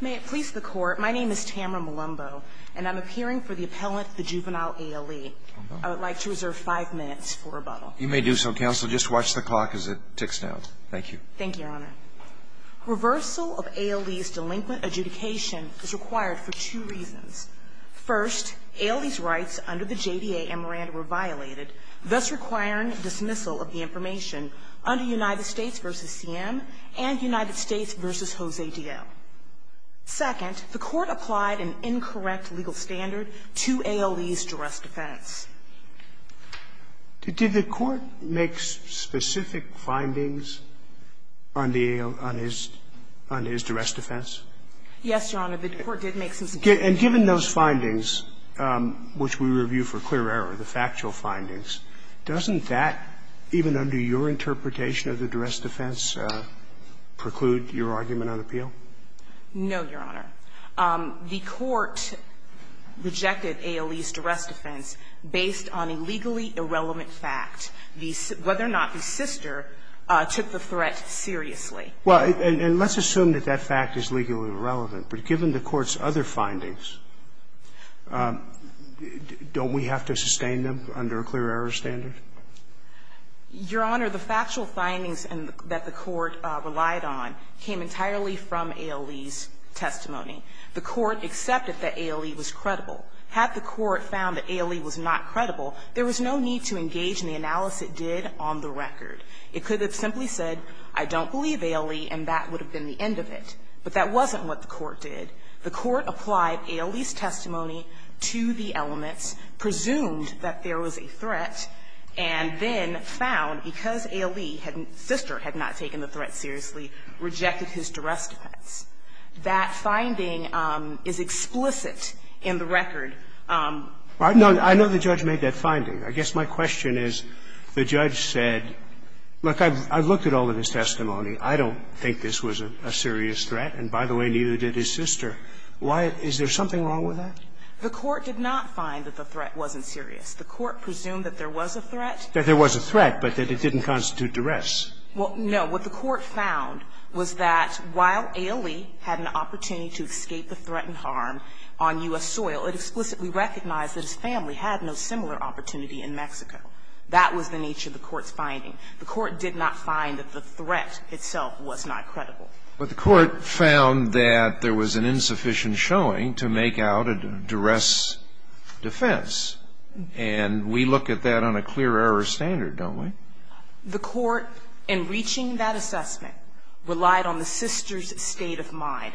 May it please the Court, my name is Tamara Malumbo, and I'm appearing for the appellant, the juvenile ALE. I would like to reserve five minutes for rebuttal. You may do so, Counsel. Just watch the clock as it ticks down. Thank you. Thank you, Your Honor. Reversal of ALE's delinquent adjudication is required for two reasons. First, ALE's rights under the JDA and Miranda were violated, thus requiring dismissal of the information under United States v. CM and United States v. Jose D.L. Second, the Court applied an incorrect legal standard to ALE's duress defense. Did the Court make specific findings on the ALE's duress defense? Yes, Your Honor, the Court did make some specific findings. And given those findings, which we review for clear error, the factual findings, doesn't that, even under your interpretation of the duress defense, preclude your argument on appeal? No, Your Honor. The Court rejected ALE's duress defense based on a legally irrelevant fact, whether or not the sister took the threat seriously. Well, and let's assume that that fact is legally irrelevant. But given the Court's other findings, don't we have to sustain them under a clear error standard? Your Honor, the factual findings that the Court relied on came entirely from ALE's testimony. The Court accepted that ALE was credible. Had the Court found that ALE was not credible, there was no need to engage in the analysis it did on the record. It could have simply said, I don't believe ALE, and that would have been the end of it. But that wasn't what the Court did. The Court applied ALE's testimony to the elements, presumed that there was a threat, and then found, because ALE had not, sister had not taken the threat seriously, rejected his duress defense. That finding is explicit in the record. I know the judge made that finding. I guess my question is, the judge said, look, I've looked at all of his testimony. I don't think this was a serious threat, and by the way, neither did his sister. Why isn't there something wrong with that? The Court did not find that the threat wasn't serious. The Court presumed that there was a threat. That there was a threat, but that it didn't constitute duress. Well, no. What the Court found was that while ALE had an opportunity to escape the threat and harm on U.S. soil, it explicitly recognized that his family had no similar opportunity in Mexico. That was the nature of the Court's finding. The Court did not find that the threat itself was not credible. But the Court found that there was an insufficient showing to make out a duress defense, and we look at that on a clear error standard, don't we? The Court, in reaching that assessment, relied on the sister's state of mind.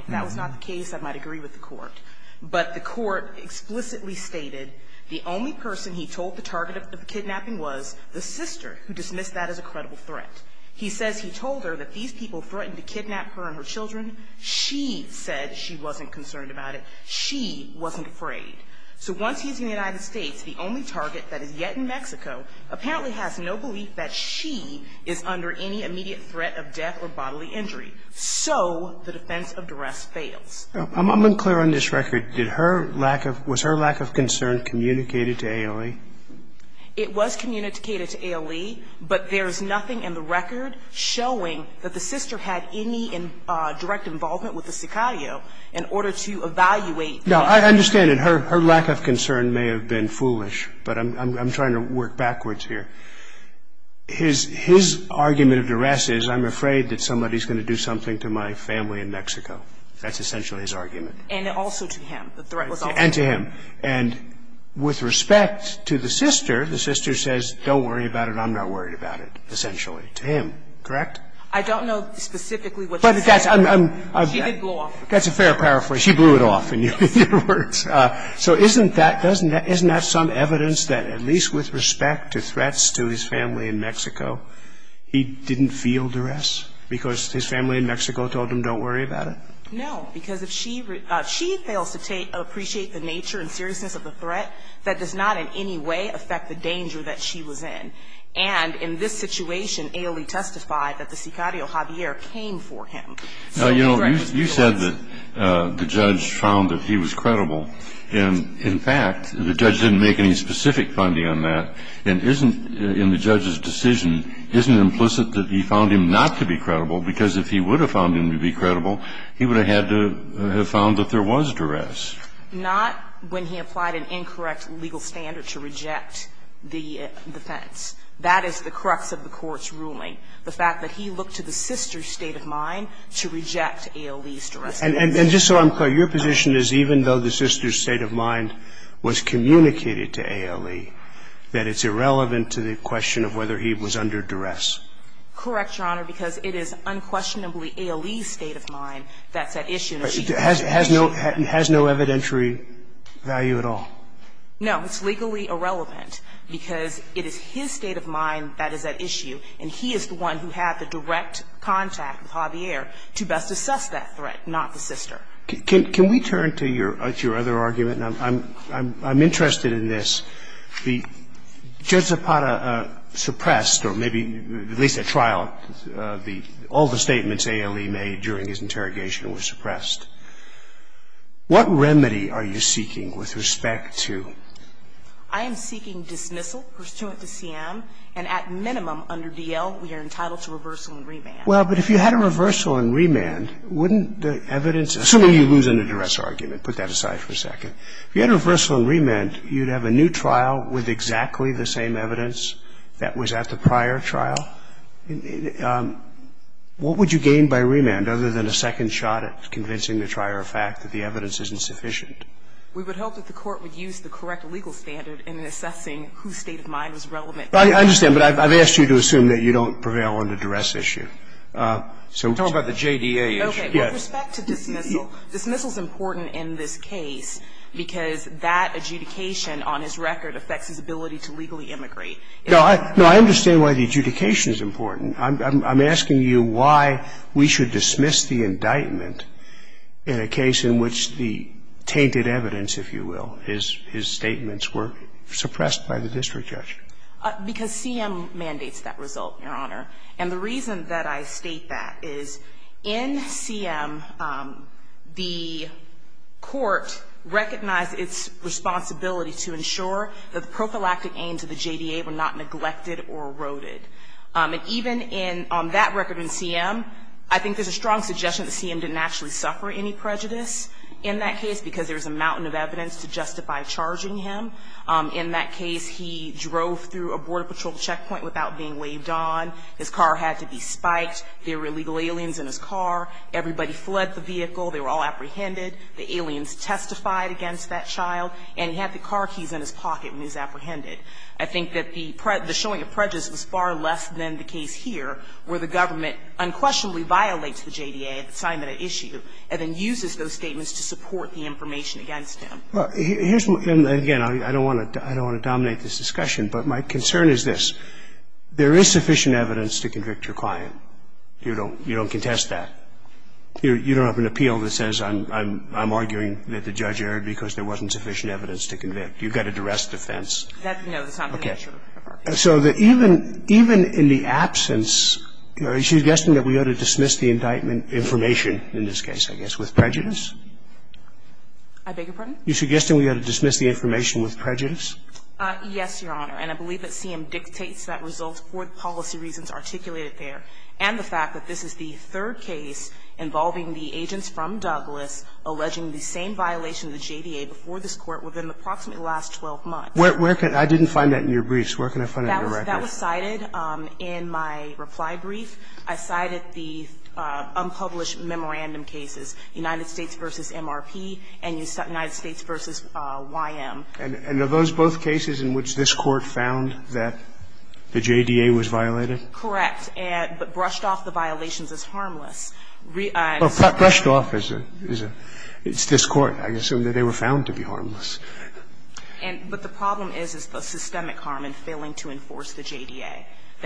But the Court explicitly stated the only person he told the target of kidnapping was the sister, who dismissed that as a credible threat. He says he told her that these people threatened to kidnap her and her children. She said she wasn't concerned about it. She wasn't afraid. So once he's in the United States, the only target that is yet in Mexico apparently has no belief that she is under any immediate threat of death or bodily injury. So the defense of duress fails. I'm unclear on this record. Did her lack of – was her lack of concern communicated to ALE? It was communicated to ALE, but there is nothing in the record showing that the sister had any direct involvement with the Sicario in order to evaluate that. No, I understand that her lack of concern may have been foolish, but I'm trying to work backwards here. His argument of duress is, I'm afraid that somebody is going to do something to my family in Mexico. That's essentially his argument. And also to him. The threat was also to him. And to him. And with respect to the sister, the sister says, don't worry about it, I'm not worried about it, essentially, to him. Correct? I don't know specifically what she said. She did blow off. That's a fair paraphrase. She blew it off in your words. So isn't that some evidence that at least with respect to threats to his family in Mexico, he didn't feel duress because his family in Mexico told him, don't worry about it? No. Because if she fails to appreciate the nature and seriousness of the threat, that does not in any way affect the danger that she was in. And in this situation, Ailey testified that the Sicario Javier came for him. Now, you know, you said that the judge found that he was credible. And in fact, the judge didn't make any specific finding on that. And isn't, in the judge's decision, isn't it implicit that he found him not to be credible? He would have had to have found that there was duress. Not when he applied an incorrect legal standard to reject the defense. That is the crux of the Court's ruling, the fact that he looked to the sister's state of mind to reject Ailey's duress. And just so I'm clear, your position is even though the sister's state of mind was communicated to Ailey, that it's irrelevant to the question of whether he was under duress? Correct, Your Honor, because it is unquestionably Ailey's state of mind that's at issue. Has no evidentiary value at all? No. It's legally irrelevant because it is his state of mind that is at issue, and he is the one who had the direct contact with Javier to best assess that threat, not the sister. Can we turn to your other argument? I'm interested in this. The judge Zapata suppressed, or maybe at least at trial, all the statements Ailey made during his interrogation were suppressed. What remedy are you seeking with respect to? I am seeking dismissal pursuant to C.M., and at minimum under D.L., we are entitled to reversal and remand. Well, but if you had a reversal and remand, wouldn't the evidence – assuming you lose in a duress argument. Put that aside for a second. If you had a reversal and remand, you'd have a new trial with exactly the same evidence that was at the prior trial. What would you gain by remand, other than a second shot at convincing the trier of fact that the evidence isn't sufficient? We would hope that the court would use the correct legal standard in assessing whose state of mind was relevant. I understand, but I've asked you to assume that you don't prevail on the duress issue. So we're talking about the JDA issue. Okay. With respect to dismissal, dismissal is important in this case because that adjudication on his record affects his ability to legally immigrate. No, I understand why the adjudication is important. I'm asking you why we should dismiss the indictment in a case in which the tainted evidence, if you will, his statements were suppressed by the district judge. Because C.M. mandates that result, Your Honor. And the reason that I state that is in C.M., the court recognized its responsibility to ensure that the prophylactic aims of the JDA were not neglected or eroded. And even on that record in C.M., I think there's a strong suggestion that C.M. didn't actually suffer any prejudice in that case because there was a mountain of evidence to justify charging him. In that case, he drove through a Border Patrol checkpoint without being laid on. His car had to be spiked. There were illegal aliens in his car. Everybody fled the vehicle. They were all apprehended. The aliens testified against that child. And he had the car keys in his pocket when he was apprehended. I think that the showing of prejudice was far less than the case here where the government unquestionably violates the JDA, the assignment at issue, and then uses those statements to support the information against him. And I think it's not fair to say that there was a sufficient evidence to do so. And again, I don't want to dominate this discussion, but my concern is this. There is sufficient evidence to convict your client. You don't contest that. You don't have an appeal that says I'm arguing that the judge erred because there wasn't sufficient evidence to convict. You've got a duress defense. Okay. So even in the absence, she's guessing that we ought to dismiss the indictment and information in this case, I guess, with prejudice? I beg your pardon? You suggest that we ought to dismiss the information with prejudice? Yes, Your Honor. And I believe that CM dictates that result for the policy reasons articulated there and the fact that this is the third case involving the agents from Douglas alleging the same violation of the JDA before this Court within approximately the last 12 months. Where can you find that in your briefs? That was cited in my reply brief. I cited the unpublished memorandum cases, United States v. MRP and United States v. YM. And are those both cases in which this Court found that the JDA was violated? Correct. But brushed off the violations as harmless. Well, brushed off is a – it's this Court. I assume that they were found to be harmless. But the problem is, is the systemic harm in failing to enforce the JDA.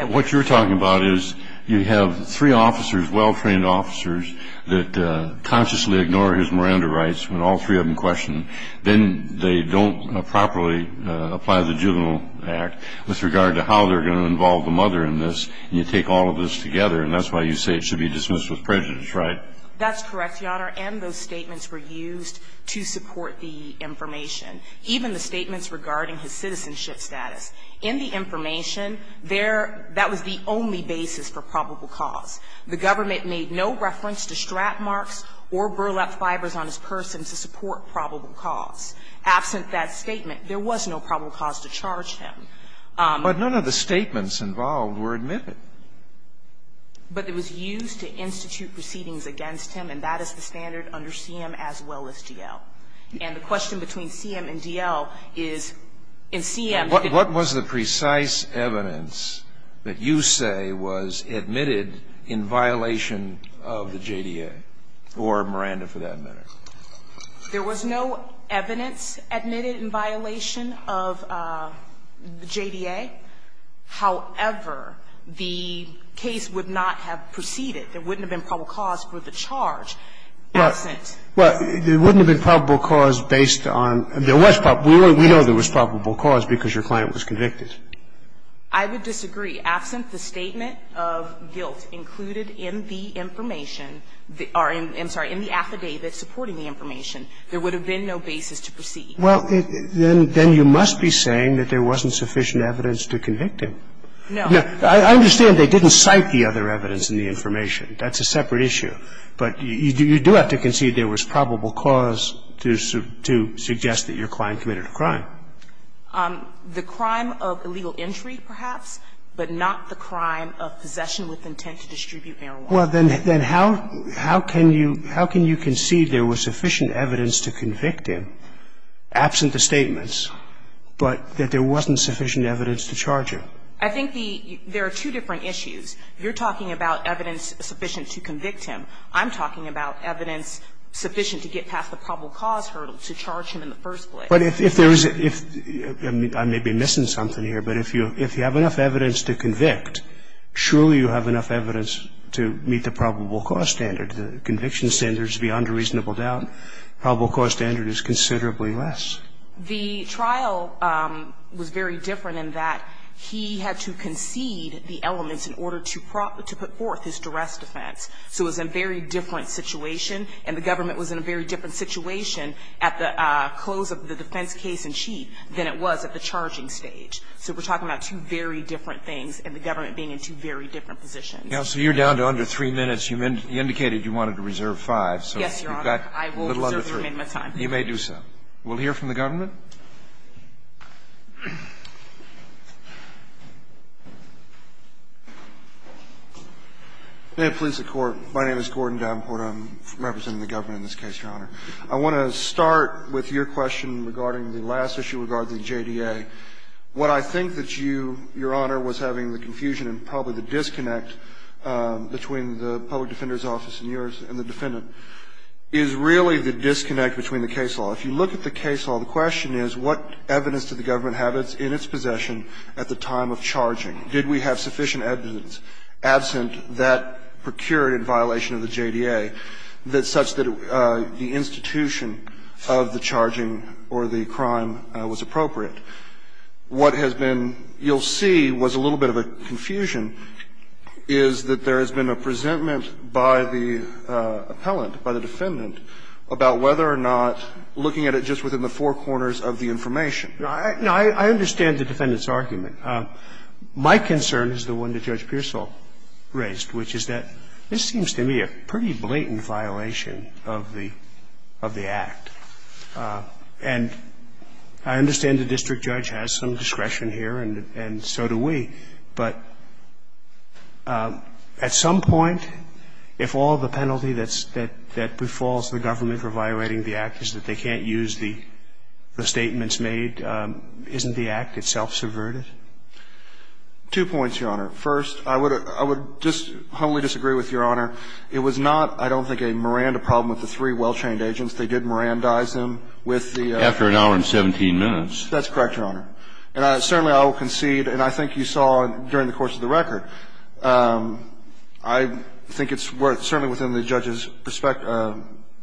What you're talking about is you have three officers, well-trained officers, that consciously ignore his Miranda rights when all three of them question. Then they don't properly apply the juvenile act with regard to how they're going to involve the mother in this. And you take all of this together, and that's why you say it should be dismissed with prejudice, right? That's correct, Your Honor. And those statements were used to support the information. Even the statements regarding his citizenship status. In the information, there – that was the only basis for probable cause. The government made no reference to strap marks or burlap fibers on his person to support probable cause. Absent that statement, there was no probable cause to charge him. But none of the statements involved were admitted. But it was used to institute proceedings against him, and that is the standard under CM as well as DL. And the question between CM and DL is, in CM – What was the precise evidence that you say was admitted in violation of the JDA or Miranda for that matter? There was no evidence admitted in violation of the JDA. However, the case would not have proceeded. There wouldn't have been probable cause for the charge absent. Well, there wouldn't have been probable cause based on – there was probable We know there was probable cause because your client was convicted. I would disagree. Absent the statement of guilt included in the information – I'm sorry, in the affidavit supporting the information, there would have been no basis to proceed. Well, then you must be saying that there wasn't sufficient evidence to convict him. No. I understand they didn't cite the other evidence in the information. That's a separate issue. But you do have to concede there was probable cause to suggest that your client committed a crime. The crime of illegal entry, perhaps, but not the crime of possession with intent to distribute marijuana. Well, then how can you concede there was sufficient evidence to convict him, absent the statements, but that there wasn't sufficient evidence to charge him? I think there are two different issues. You're talking about evidence sufficient to convict him. I'm talking about evidence sufficient to get past the probable cause hurdle to charge him in the first place. But if there is – I may be missing something here, but if you have enough evidence to convict, surely you have enough evidence to meet the probable cause standard. The conviction standard is beyond a reasonable doubt. The probable cause standard is considerably less. The trial was very different in that he had to concede the elements in order to put forth his duress defense. So it was a very different situation, and the government was in a very different situation at the close of the defense case-in-chief than it was at the charging stage. So we're talking about two very different things and the government being in two very different positions. Counsel, you're down to under 3 minutes. You indicated you wanted to reserve 5. Yes, Your Honor. I will reserve the remainder of my time. You may do so. We'll hear from the government. May it please the Court. My name is Gordon Davenport. I'm representing the government in this case, Your Honor. I want to start with your question regarding the last issue regarding the JDA. What I think that you, Your Honor, was having the confusion and probably the disconnect between the public defender's office and yours and the defendant is really the disconnect between the case law. If you look at the case law, the question is what evidence did the government have in its possession at the time of charging? Did we have sufficient evidence absent that procured in violation of the JDA such that the institution of the charging or the crime was appropriate? What has been you'll see was a little bit of a confusion is that there has been a presentment by the appellant, by the defendant, about whether or not looking at it just within the four corners of the information. No, I understand the defendant's argument. My concern is the one that Judge Pearsall raised, which is that this seems to me a pretty blatant violation of the act, and I understand the district judge has some discretion here and so do we. But at some point, if all the penalty that befalls the government for violating the act is that they can't use the statements made, isn't the act itself subverted? Two points, Your Honor. First, I would just humbly disagree with Your Honor. It was not, I don't think, a Miranda problem with the three well-trained agents. They did Mirandize them with the... After an hour and 17 minutes. That's correct, Your Honor. And certainly I will concede, and I think you saw during the course of the record, I think it's worth, certainly within the judge's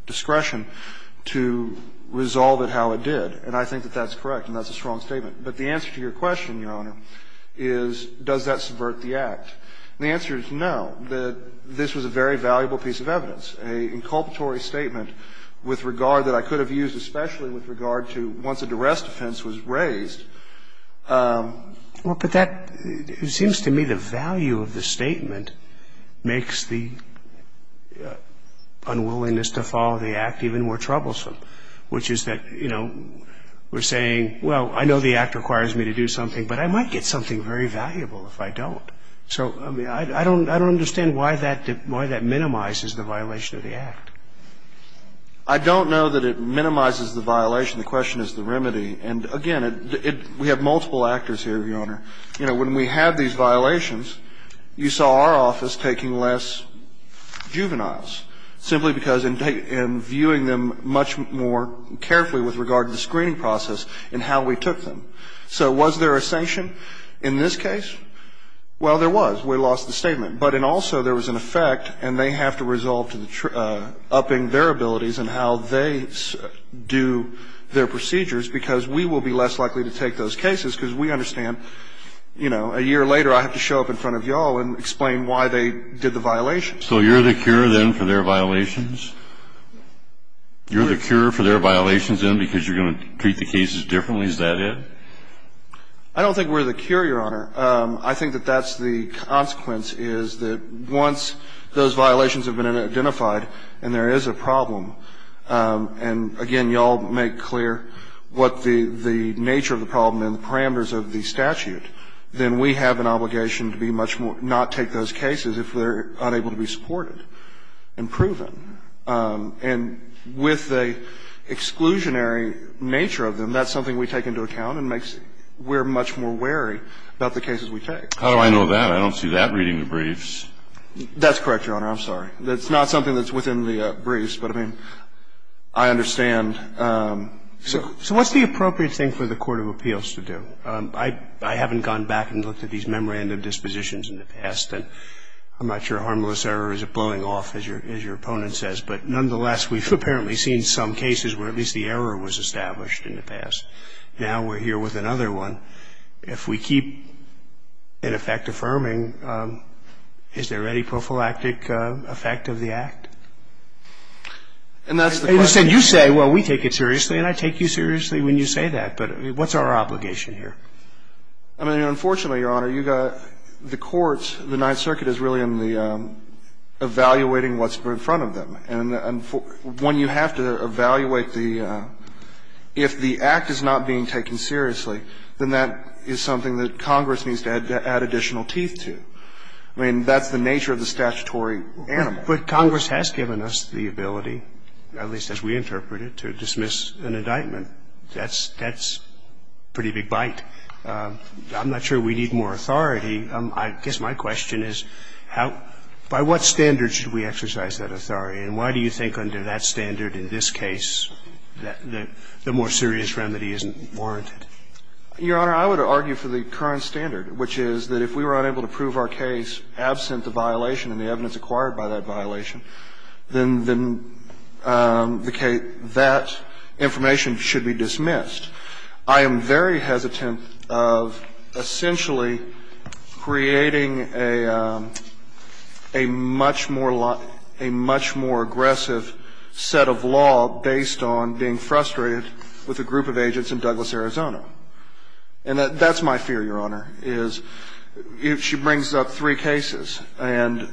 discretion, to resolve it how it did, and I think that that's correct and that's a strong statement. But the answer to your question, Your Honor, is does that subvert the act? And the answer is no, that this was a very valuable piece of evidence, an inculpatory statement with regard that I could have used, especially with regard to once a duress defense was raised. Well, but that, it seems to me the value of the statement makes the unwillingness to follow the act even more troublesome, which is that, you know, we're saying, well, I know the act requires me to do something, but I might get something very valuable if I don't. So, I mean, I don't understand why that minimizes the violation of the act. I don't know that it minimizes the violation. The question is the remedy. And, again, we have multiple actors here, Your Honor. You know, when we had these violations, you saw our office taking less juveniles simply because in viewing them much more carefully with regard to the screening process and how we took them. So was there a sanction in this case? Well, there was. We lost the statement. But in also there was an effect, and they have to resolve to upping their abilities and how they do their procedures because we will be less likely to take those cases because we understand, you know, a year later I have to show up in front of you all and explain why they did the violation. So you're the cure, then, for their violations? You're the cure for their violations, then, because you're going to treat the cases differently? Is that it? I don't think we're the cure, Your Honor. I think that that's the consequence, is that once those violations have been identified and there is a problem, and, again, you all make clear what the nature of the problem and the parameters of the statute, then we have an obligation to be much more, not take those cases if they're unable to be supported and proven. And with the exclusionary nature of them, that's something we take into account and makes we're much more wary about the cases we take. How do I know that? I don't see that reading the briefs. That's correct, Your Honor. I'm sorry. That's not something that's within the briefs, but, I mean, I understand. So what's the appropriate thing for the court of appeals to do? I haven't gone back and looked at these memorandum dispositions in the past, and I'm not sure harmless error is blowing off, as your opponent says. But nonetheless, we've apparently seen some cases where at least the error was established in the past. Now we're here with another one. If we keep, in effect, affirming, is there any prophylactic effect of the act? And that's the question. You say, well, we take it seriously, and I take you seriously when you say that. But what's our obligation here? I mean, unfortunately, Your Honor, you've got the courts, the Ninth Circuit is really in the evaluating what's in front of them. And when you have to evaluate the – if the act is not being taken seriously, then that is something that Congress needs to add additional teeth to. I mean, that's the nature of the statutory animal. But Congress has given us the ability, at least as we interpret it, to dismiss an indictment. That's a pretty big bite. I'm not sure we need more authority. I guess my question is how – by what standard should we exercise that authority? And why do you think under that standard in this case that the more serious remedy isn't warranted? Your Honor, I would argue for the current standard, which is that if we were unable to prove our case absent the violation and the evidence acquired by that violation, then the case – that information should be dismissed. I am very hesitant of essentially creating a much more – a much more aggressive set of law based on being frustrated with a group of agents in Douglas, Arizona. And that's my fear, Your Honor, is if she brings up three cases, and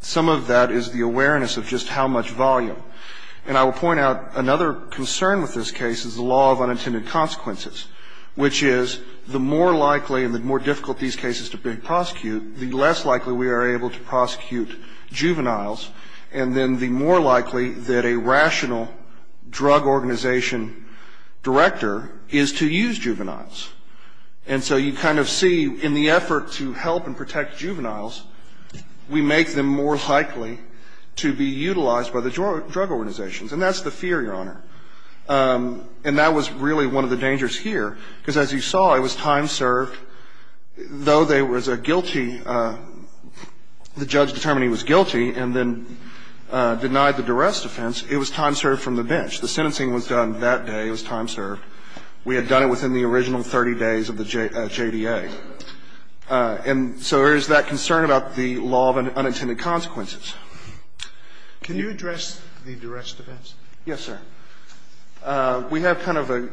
some of that is the awareness of just how much volume. And I will point out another concern with this case is the law of unintended consequences, which is the more likely and the more difficult these cases to prosecute, the less likely we are able to prosecute juveniles. And then the more likely that a rational drug organization director is to use juveniles. And so you kind of see in the effort to help and protect juveniles, we make them more And that's the fear, Your Honor. And that was really one of the dangers here. Because as you saw, it was time served. Though there was a guilty – the judge determined he was guilty and then denied the duress defense, it was time served from the bench. The sentencing was done that day. It was time served. We had done it within the original 30 days of the JDA. And so there is that concern about the law of unintended consequences. Can you address the duress defense? Yes, sir. We have kind of a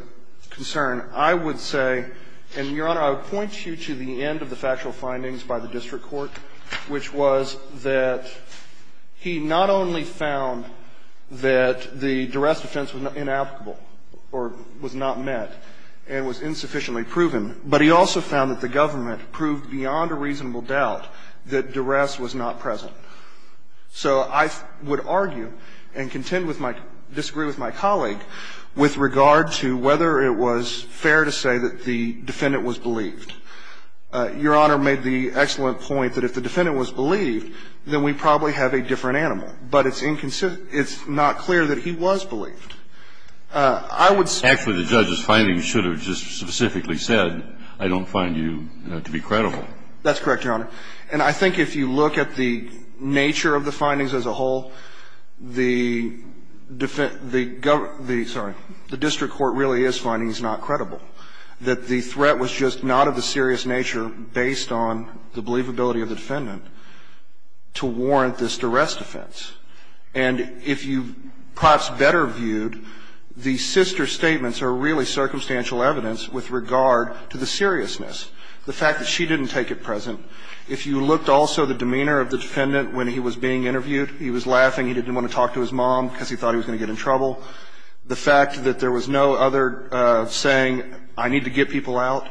concern. I would say – and, Your Honor, I would point you to the end of the factual findings by the district court, which was that he not only found that the duress defense was inapplicable or was not met and was insufficiently proven, but he also found that the government proved beyond a reasonable doubt that duress was not present. So I would argue and contend with my – disagree with my colleague with regard to whether it was fair to say that the defendant was believed. Your Honor made the excellent point that if the defendant was believed, then we probably have a different animal. But it's not clear that he was believed. I would say – Actually, the judge's findings should have just specifically said, I don't find you to be credible. That's correct, Your Honor. And I think if you look at the nature of the findings as a whole, the district court really is finding he's not credible, that the threat was just not of the serious nature based on the believability of the defendant to warrant this duress defense. And if you perhaps better viewed, the sister statements are really circumstantial evidence with regard to the seriousness. The fact that she didn't take it present. If you looked also the demeanor of the defendant when he was being interviewed, he was laughing, he didn't want to talk to his mom because he thought he was going to get in trouble. The fact that there was no other saying, I need to get people out.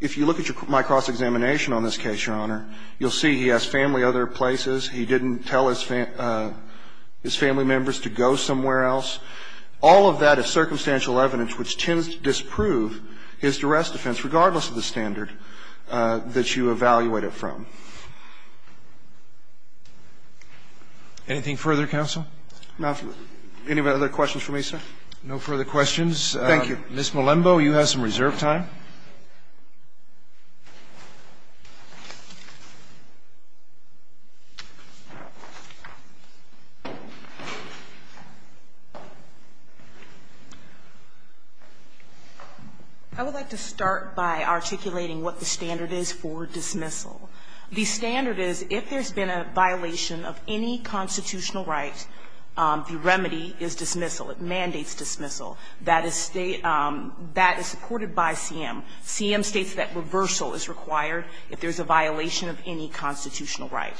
If you look at my cross-examination on this case, Your Honor, you'll see he has family other places, he didn't tell his family members to go somewhere else. All of that is circumstantial evidence which tends to disprove his duress defense regardless of the standard that you evaluate it from. Anything further, counsel? No. Any other questions for me, sir? No further questions. Thank you. Ms. Malembo, you have some reserve time. I would like to start by articulating what the standard is for dismissal. The standard is if there's been a violation of any constitutional right, the remedy is dismissal. It mandates dismissal. That is supported by CM. CM states that reversal is required if there's a violation of any constitutional right.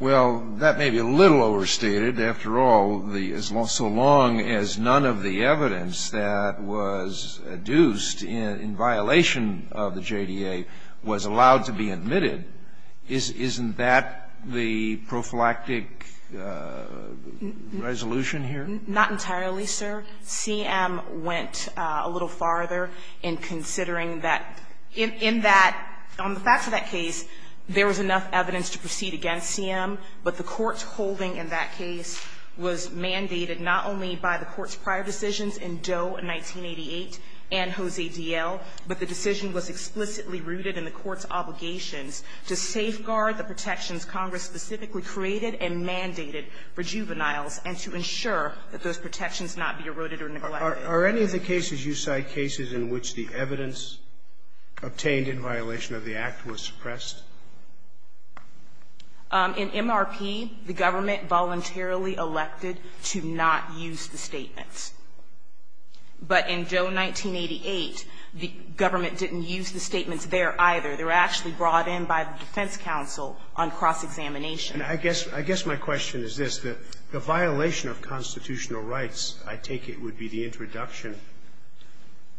Well, that may be a little overstated. After all, so long as none of the evidence that was adduced in violation of the JDA was allowed to be admitted, isn't that the prophylactic resolution here? Not entirely, sir. CM went a little farther in considering that in that, on the facts of that case, there was enough evidence to proceed against CM. But the Court's holding in that case was mandated not only by the Court's prior decisions in Doe in 1988 and Jose D.L., but the decision was explicitly rooted in the Court's obligations to safeguard the protections Congress specifically created and mandated for juveniles and to ensure that those protections not be eroded or neglected. Are any of the cases you cite cases in which the evidence obtained in violation of the Act was suppressed? In MRP, the government voluntarily elected to not use the statements. But in Doe 1988, the government didn't use the statements there either. They were actually brought in by the defense counsel on cross-examination. And I guess my question is this. The violation of constitutional rights, I take it, would be the introduction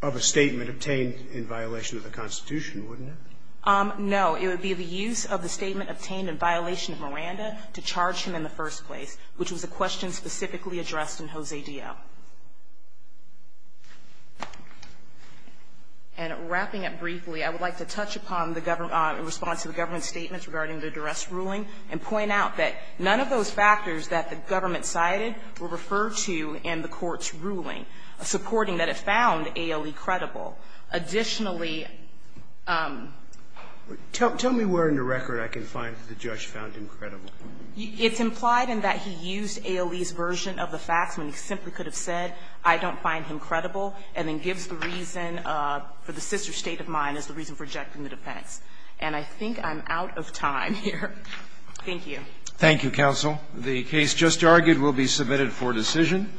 of a statement obtained in violation of the Constitution, wouldn't it? No. It would be the use of the statement obtained in violation of Miranda to charge him in the first place, which was a question specifically addressed in Jose D.L. And wrapping up briefly, I would like to touch upon the government response to the and point out that none of those factors that the government cited were referred to in the Court's ruling, supporting that it found A.L.E. credible. Additionally ---- Tell me where in the record I can find that the judge found him credible. It's implied in that he used A.L.E.'s version of the facts when he simply could have said, I don't find him credible, and then gives the reason for the sister state of mind as the reason for rejecting the defense. And I think I'm out of time here. Thank you. Thank you, Counsel. The case just argued will be submitted for decision.